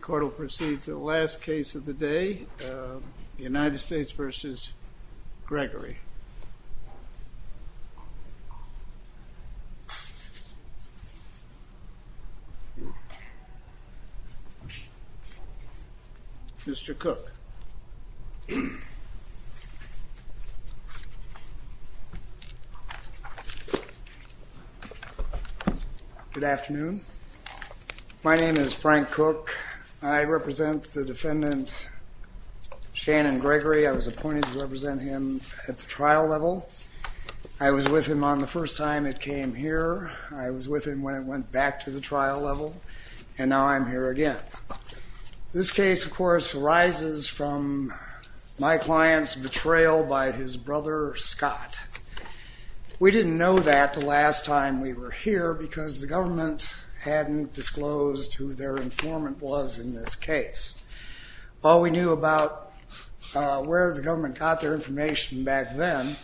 Court will proceed to the last case of the day, United States v. Gregory. Mr. Cook. Good afternoon. My name is Frank Cook. I represent the defendant, Shannon Gregory. I was appointed to represent him at the trial level. I was with him on the first time it came here. I was with him when it went back to the trial level, and now I'm here again. This case, of course, arises from my client's betrayal by his brother, Scott. We didn't know that the last time we were here because the government hadn't disclosed who their informant was in this case. All we knew about where the government got their information back then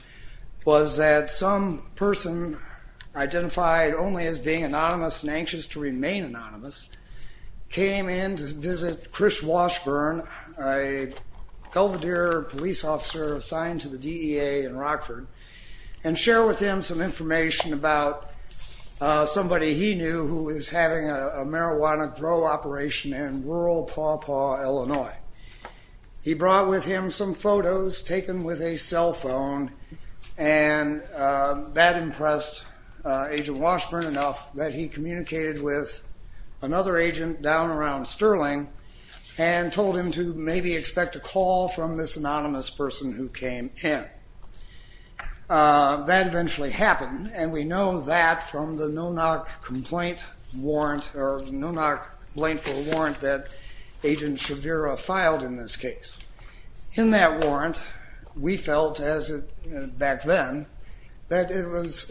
was that some person identified only as being anonymous and anxious to remain anonymous came in to visit Chris Washburn, a Helvedere police officer assigned to the DEA in Rockford, and share with him some information about somebody he knew who was having a marijuana grow operation in rural Pawpaw, Illinois. He brought with him some photos taken with a cell phone, and that impressed Agent Washburn enough that he communicated with another agent down around Sterling and told him to maybe expect a call from this anonymous person who came in. That eventually happened, and we know that from the no-knock complaint warrant, or no-knock blainful warrant that Agent Shavira filed in this case. In that warrant, we felt, back then, that it was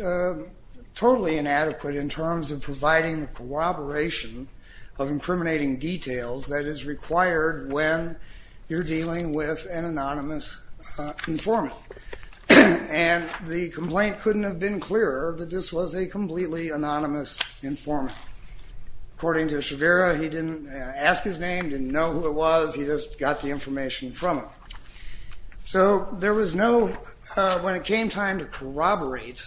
totally inadequate in terms of providing the corroboration of incriminating details that is required when you're dealing with an anonymous informant, and the complaint couldn't have been clearer that this was a completely anonymous informant. According to Shavira, he didn't ask his name, didn't know who it was, he just got the information from him. So there was no, when it came time to corroborate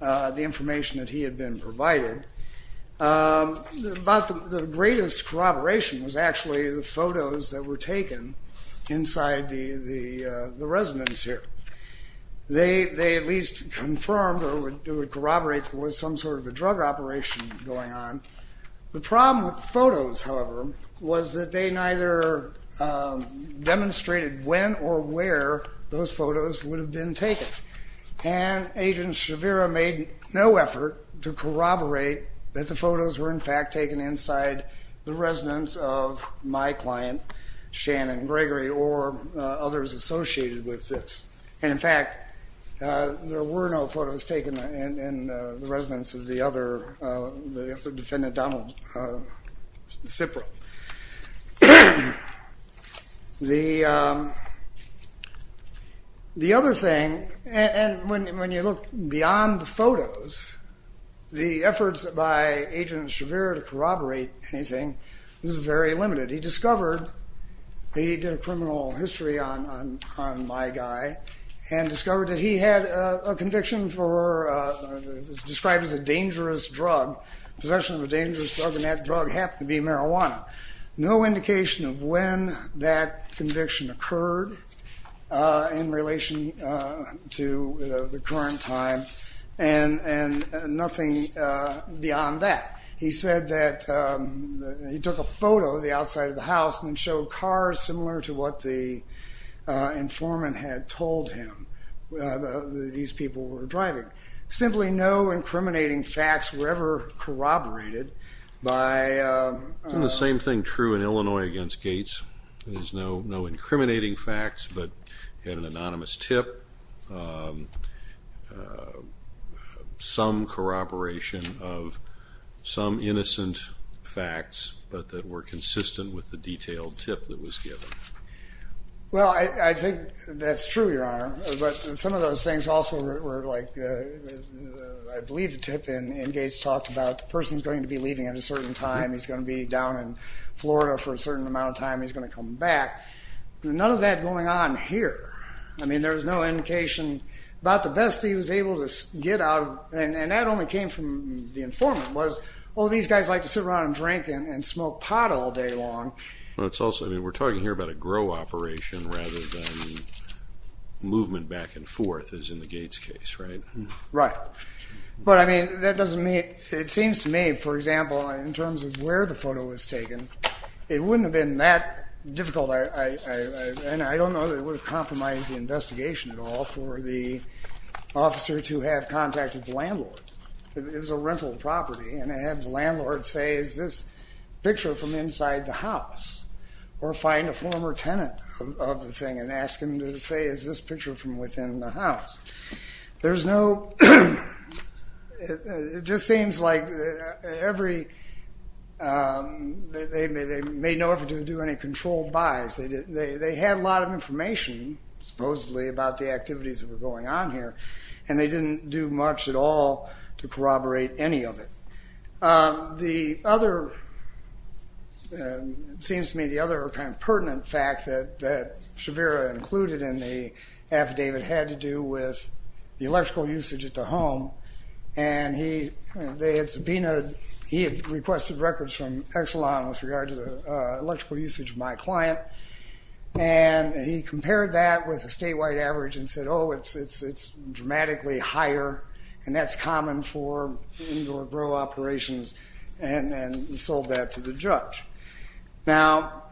the information that he had been provided, about the greatest corroboration was actually the photos that were taken inside the residence here. They at least confirmed or would corroborate that there was some sort of a drug operation going on. The problem with the photos, however, was that they neither demonstrated when or where those photos would have been taken, and Agent Shavira made no effort to corroborate that the photos were in fact taken inside the residence of my client, Shannon Gregory, or others associated with this. And in fact, there were no photos taken in the residence of the other defendant, Donald Cipro. The other thing, and when you look beyond the photos, the efforts by Agent Shavira to corroborate anything was very limited. He discovered, he did a criminal history on my guy, and discovered that he had a conviction for, described as a dangerous drug, possession of a dangerous drug, and that drug happened to be marijuana. No indication of when that conviction occurred in relation to the current time, and nothing beyond that. He said that he took a photo of the outside of the house and showed cars similar to what the informant had told him that these people were driving. Simply no incriminating facts were ever corroborated by... The same thing true in Illinois against Gates. There's no incriminating facts, but he had an anonymous tip, some corroboration of some innocent facts, but that were consistent with the detailed tip that was given. Well, I think that's true, Your Honor, but some of those things also were like, I believe the tip in Gates talked about the person's going to be leaving at a certain time, he's going to be down in Florida for a certain amount of time, he's going to come back. None of that going on here. I mean, there was no indication about the best he was able to get out of... And that only came from the informant was, oh, these guys like to sit around and drink and smoke pot all day long. Well, it's also, I mean, we're talking here about a grow operation rather than movement back and forth, as in the Gates case, right? Right. But, I mean, that doesn't mean... It seems to me, for example, in terms of where the photo was taken, it wouldn't have been that difficult, and I don't know that it would have compromised the investigation at all for the officer to have contacted the landlord. It was a rental property, and to have the landlord say, is this picture from inside the house? Or find a former tenant of the thing and ask him to say, is this picture from within the house? There's no... It just seems like every... They made no effort to do any controlled buys. They had a lot of information, supposedly, about the activities that were going on here, and they didn't do much at all to corroborate any of it. The other... It seems to me the other kind of pertinent fact that Shavira included in the affidavit had to do with the electrical usage at the home, and they had subpoenaed... He had requested records from Exelon with regard to the electrical usage of my client, and he compared that with a statewide average and said, oh, it's dramatically higher, and that's common for indoor grow operations, and sold that to the judge. Now,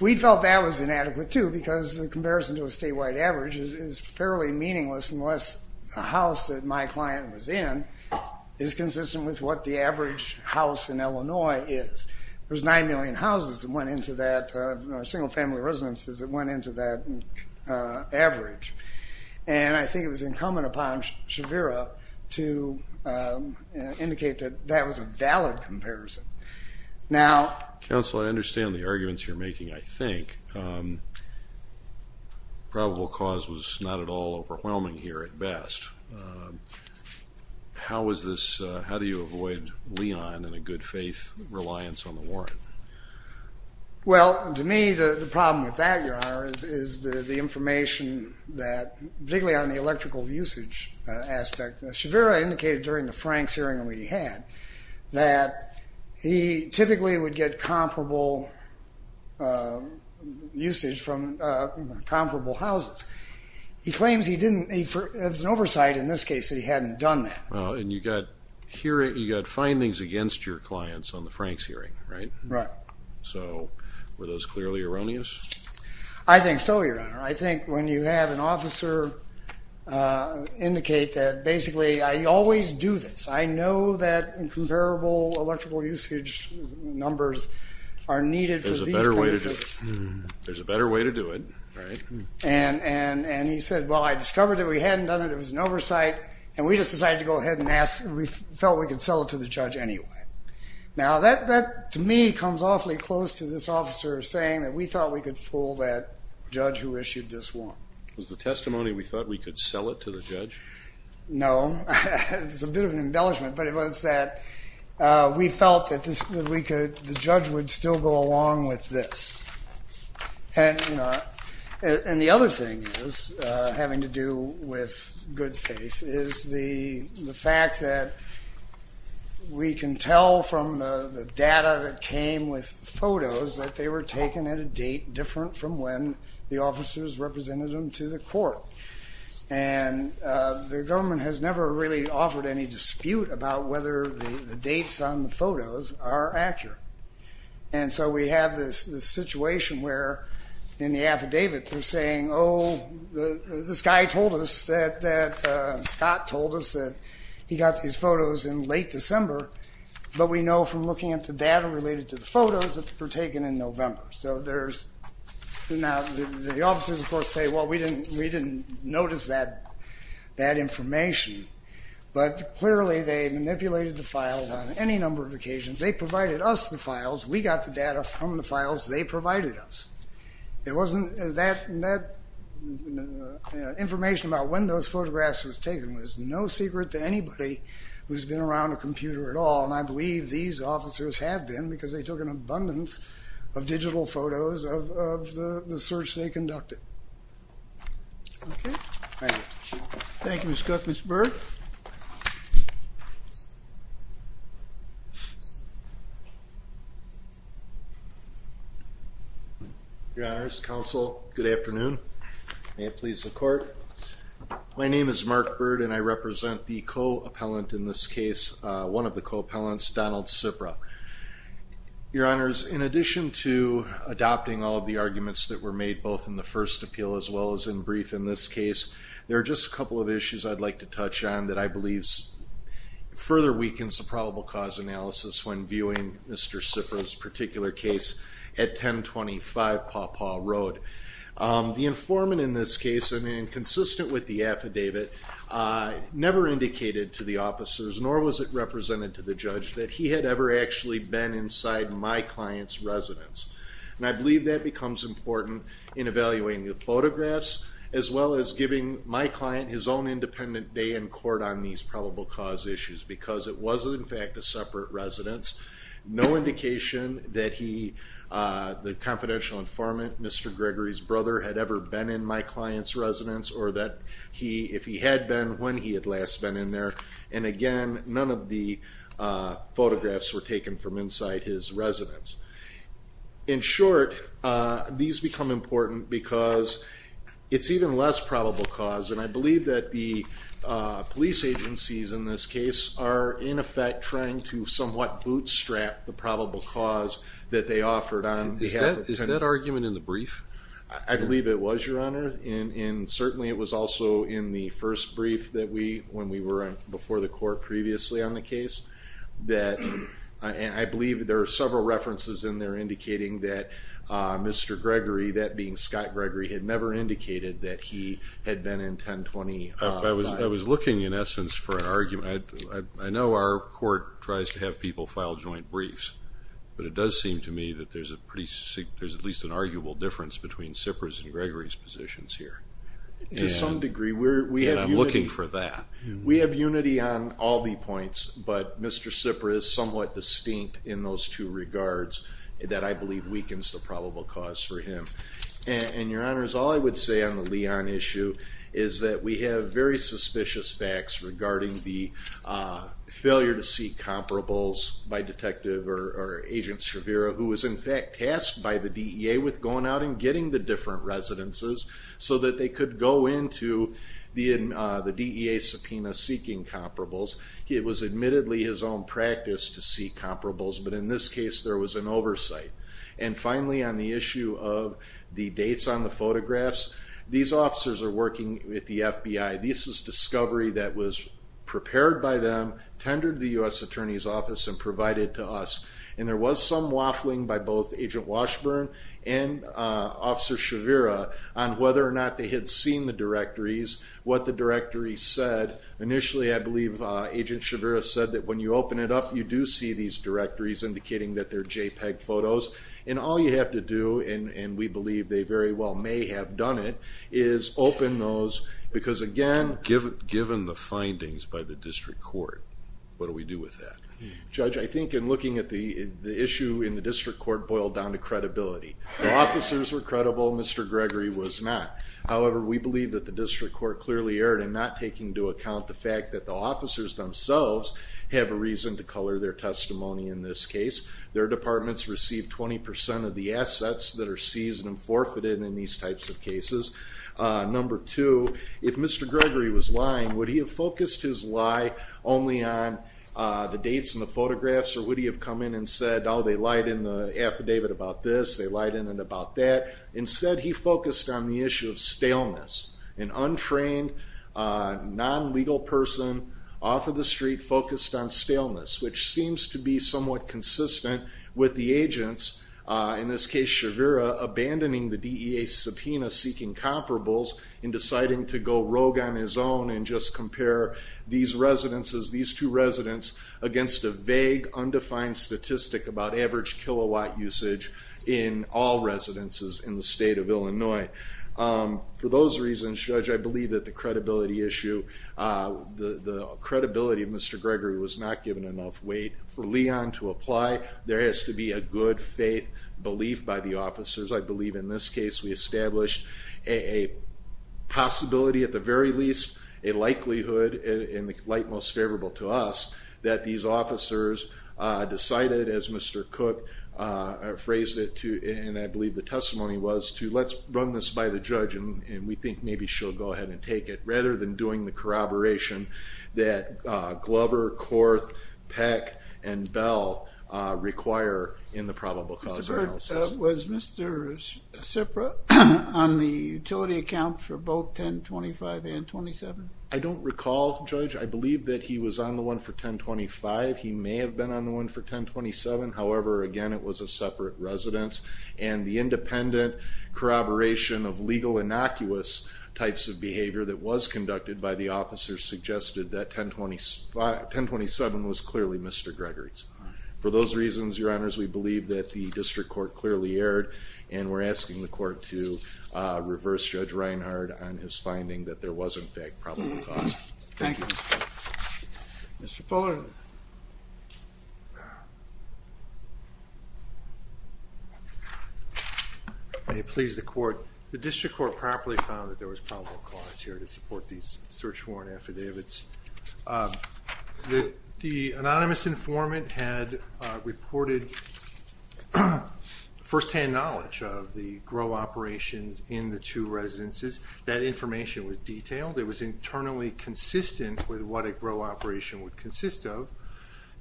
we felt that was inadequate, too, because the comparison to a statewide average is fairly meaningless unless a house that my client was in is consistent with what the average house in Illinois is. There's 9 million houses that went into that, single-family residences that went into that average, and I think it was incumbent upon Shavira to indicate that that was a valid comparison. Now... Counsel, I understand the arguments you're making, I think. Probable cause was not at all overwhelming here at best. How is this... How do you avoid Leon and a good-faith reliance on the warrant? Well, to me, the problem with that, Your Honor, is the information that, particularly on the electrical usage aspect, Shavira indicated during the Franks hearing we had that he typically would get comparable usage from comparable houses. He claims he didn't... He has an oversight in this case that he hadn't done that. And you got findings against your clients on the Franks hearing, right? Right. So were those clearly erroneous? I think so, Your Honor. I think when you have an officer indicate that, basically, I always do this, I know that comparable electrical usage numbers are needed for these cases. There's a better way to do it, right? And he said, well, I discovered that we hadn't done it, it was an oversight, and we just decided to go ahead and ask. We felt we could sell it to the judge anyway. Now that, to me, comes awfully close to this officer saying that we thought we could fool that judge who issued this warrant. Was the testimony we thought we could sell it to the judge? No. It's a bit of an embellishment, but it was that we felt that the judge would still go along with this. And the other thing having to do with good faith is the fact that we can tell from the data that came with photos that they were taken at a date different from when the officers represented them to the court. And the government has never really offered any dispute about whether the dates on the photos are accurate. And so we have this situation where in the affidavit they're saying, oh, this guy told us that Scott told us that he got his photos in late December, but we know from looking at the data related to the photos that they were taken in November. So now the officers, of course, say, well, we didn't notice that information. But clearly they manipulated the files on any number of occasions. They provided us the files. We got the data from the files they provided us. It wasn't that information about when those photographs were taken was no secret to anybody who's been around a computer at all. And I believe these officers have been because they took an abundance of digital photos of the search they conducted. Okay. Thank you. Thank you, Mr. Cook. Thank you, Mr. Byrd. Your Honors, Counsel, good afternoon. May it please the Court. My name is Mark Byrd, and I represent the co-appellant in this case, one of the co-appellants, Donald Cipra. Your Honors, in addition to adopting all of the arguments that were made both in the first appeal as well as in brief in this case, there are just a couple of issues I'd like to touch on that I believe further weakens the probable cause analysis when viewing Mr. Cipra's particular case at 1025 Paw Paw Road. The informant in this case, consistent with the affidavit, never indicated to the officers, nor was it represented to the judge, that he had ever actually been inside my client's residence. And I believe that becomes important in evaluating the photographs as well as giving my client his own independent day in court on these probable cause issues because it was, in fact, a separate residence. No indication that he, the confidential informant, Mr. Gregory's brother, had ever been in my client's residence or that he, if he had been, when he had last been in there. And again, none of the photographs were taken from inside his residence. In short, these become important because it's even less probable cause, and I believe that the police agencies in this case are, in effect, trying to somewhat bootstrap the probable cause that they offered on behalf of the defendant. Is that argument in the brief? I believe it was, Your Honor, and certainly it was also in the first brief that we, when we were before the court previously on the case, that I believe there are several references in there indicating that Mr. Gregory, that being Scott Gregory, had never indicated that he had been in 1020. I was looking, in essence, for an argument. I know our court tries to have people file joint briefs, but it does seem to me that there's at least an arguable difference between Sippers' and Gregory's positions here. To some degree. And I'm looking for that. We have unity on all the points, but Mr. Sipper is somewhat distinct in those two regards that I believe weakens the probable cause for him. And, Your Honor, all I would say on the Leon issue is that we have very suspicious facts regarding the failure to seek comparables by Detective or Agent Shavira, who was, in fact, tasked by the DEA with going out and getting the different residences so that they could go into the DEA subpoena seeking comparables. It was admittedly his own practice to seek comparables, but in this case there was an oversight. And finally, on the issue of the dates on the photographs, these officers are working with the FBI. This is discovery that was prepared by them, tendered to the U.S. Attorney's Office, and provided to us. And there was some waffling by both Agent Washburn and Officer Shavira on whether or not they had seen the directories, what the directories said. Initially, I believe Agent Shavira said that when you open it up you do see these directories indicating that they're JPEG photos. And all you have to do, and we believe they very well may have done it, is open those because, again, given the findings by the district court, what do we do with that? Judge, I think in looking at the issue in the district court boiled down to credibility. The officers were credible, Mr. Gregory was not. However, we believe that the district court clearly erred in not taking into account the fact that the officers themselves have a reason to color their testimony in this case. Their departments receive 20% of the assets that are seized and forfeited in these types of cases. Number two, if Mr. Gregory was lying, would he have focused his lie only on the dates and the photographs, or would he have come in and said, oh, they lied in the affidavit about this, they lied in it about that? Instead, he focused on the issue of staleness. An untrained, non-legal person off of the street focused on staleness, which seems to be somewhat consistent with the agents, in this case, Shavira, abandoning the DEA subpoena seeking comparables and deciding to go rogue on his own and just compare these residences, these two residents, against a vague, undefined statistic about average kilowatt usage in all residences in the state of Illinois. For those reasons, Judge, I believe that the credibility issue, the credibility of Mr. Gregory was not given enough weight. For Leon to apply, there has to be a good faith belief by the officers. I believe in this case we established a possibility, at the very least, a likelihood, in the light most favorable to us, that these officers decided, as Mr. Cook phrased it, and I believe the testimony was, to let's run this by the judge, and we think maybe she'll go ahead and take it, rather than doing the corroboration that Glover, Korth, Peck, and Bell require in the probable cause analysis. Was Mr. Cipra on the utility account for both 1025 and 27? I don't recall, Judge. I believe that he was on the one for 1025. He may have been on the one for 1027. However, again, it was a separate residence, and the independent corroboration of legal innocuous types of behavior that was conducted by the officers suggested that 1027 was clearly Mr. Gregory's. For those reasons, Your Honors, we believe that the district court clearly erred, and we're asking the court to reverse Judge Reinhard on his finding that there was, in fact, probable cause. Thank you. Mr. Fuller. May it please the court. The district court properly found that there was probable cause here to support these search warrant affidavits. The anonymous informant had reported firsthand knowledge of the GRO operations in the two residences. That information was detailed. It was internally consistent with what a GRO operation would consist of.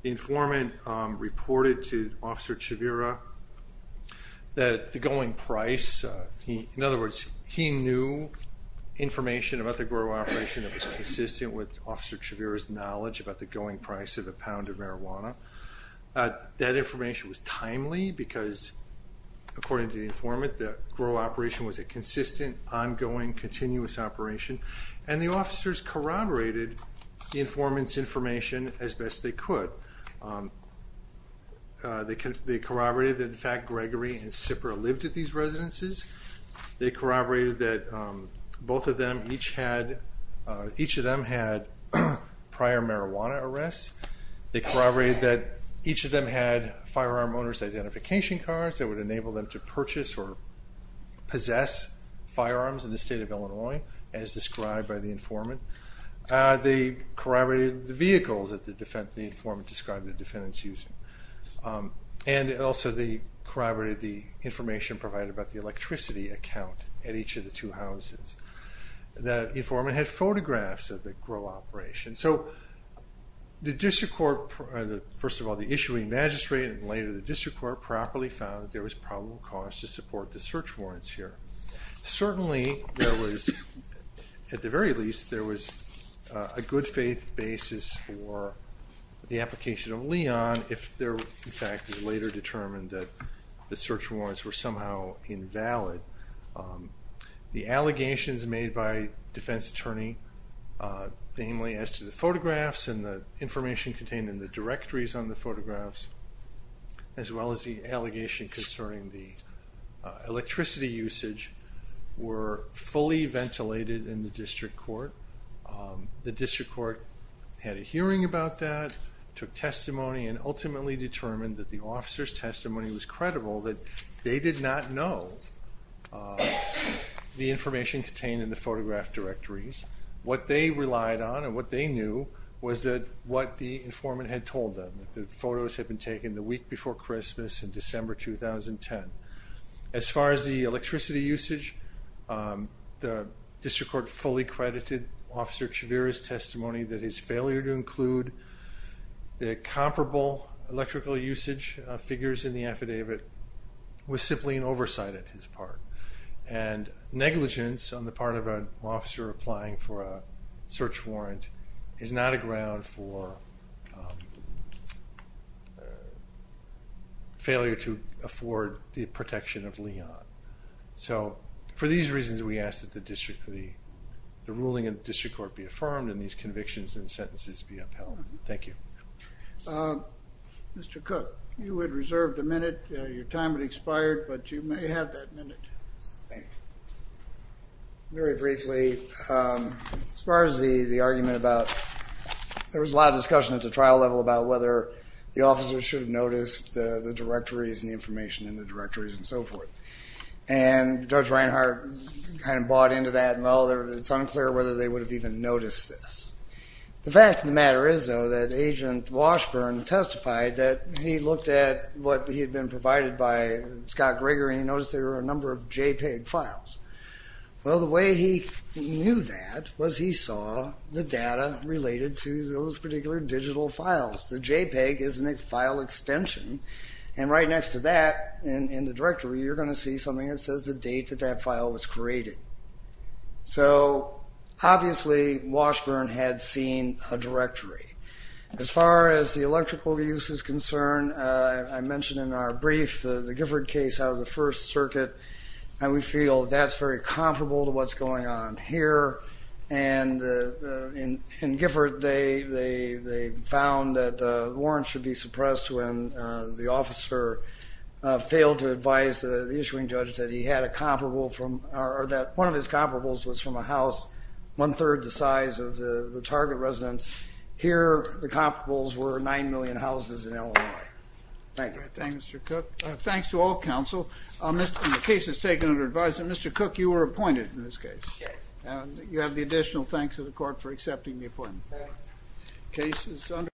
The informant reported to Officer Chavira that the going price, in other words, he knew information about the GRO operation that was consistent with Officer Chavira's knowledge about the going price of a pound of marijuana. That information was timely because, according to the informant, that the GRO operation was a consistent, ongoing, continuous operation, and the officers corroborated the informant's information as best they could. They corroborated that, in fact, Gregory and Sipper lived at these residences. They corroborated that each of them had prior marijuana arrests. They corroborated that each of them had firearm owner's identification cards that would enable them to purchase or possess firearms in the state of Illinois, as described by the informant. They corroborated the vehicles that the informant described the defendants using. And also they corroborated the information provided about the electricity account at each of the two houses. The informant had photographs of the GRO operation. So the district court, first of all the issuing magistrate, and later the district court, properly found that there was probable cause to support the search warrants here. Certainly, at the very least, there was a good-faith basis for the application of Leon if, in fact, it was later determined that the search warrants were somehow invalid. The allegations made by the defense attorney, namely as to the photographs and the information contained in the directories on the photographs, as well as the allegation concerning the electricity usage, were fully ventilated in the district court. The district court had a hearing about that, took testimony, and ultimately determined that the officer's testimony was credible, that they did not know the information contained in the photograph directories. What they relied on and what they knew was what the informant had told them, that the photos had been taken the week before Christmas in December 2010. As far as the electricity usage, the district court fully credited Officer Chavira's testimony that his failure to include the comparable electrical usage figures in the affidavit was simply an oversight on his part. Negligence on the part of an officer applying for a search warrant is not a ground for failure to afford the protection of Leon. For these reasons, we ask that the ruling of the district court be affirmed and these convictions and sentences be upheld. Thank you. Mr. Cook, you had reserved a minute. Your time had expired, but you may have that minute. Thank you. Very briefly, as far as the argument about there was a lot of discussion at the trial level about whether the officers should have noticed the directories and the information in the directories and so forth. And Judge Reinhart kind of bought into that. Well, it's unclear whether they would have even noticed this. The fact of the matter is, though, that Agent Washburn testified that he looked at what he had been provided by Scott Greger and he noticed there were a number of JPEG files. Well, the way he knew that was he saw the data related to those particular digital files. The JPEG is a file extension, and right next to that in the directory, you're going to see something that says the date that that file was created. So obviously Washburn had seen a directory. As far as the electrical use is concerned, I mentioned in our brief the Gifford case out of the First Circuit, and we feel that's very comparable to what's going on here. And in Gifford, they found that warrants should be suppressed when the officer failed to advise the issuing judge that he had a comparable or that one of his comparables was from a house one-third the size of the target residence. Here, the comparables were nine million houses in Illinois. Thank you. Thank you, Mr. Cook. Thanks to all counsel. The case is taken under advisement. Mr. Cook, you were appointed in this case. Yes. And you have the additional thanks of the court for accepting the appointment. Thank you. The case is under review.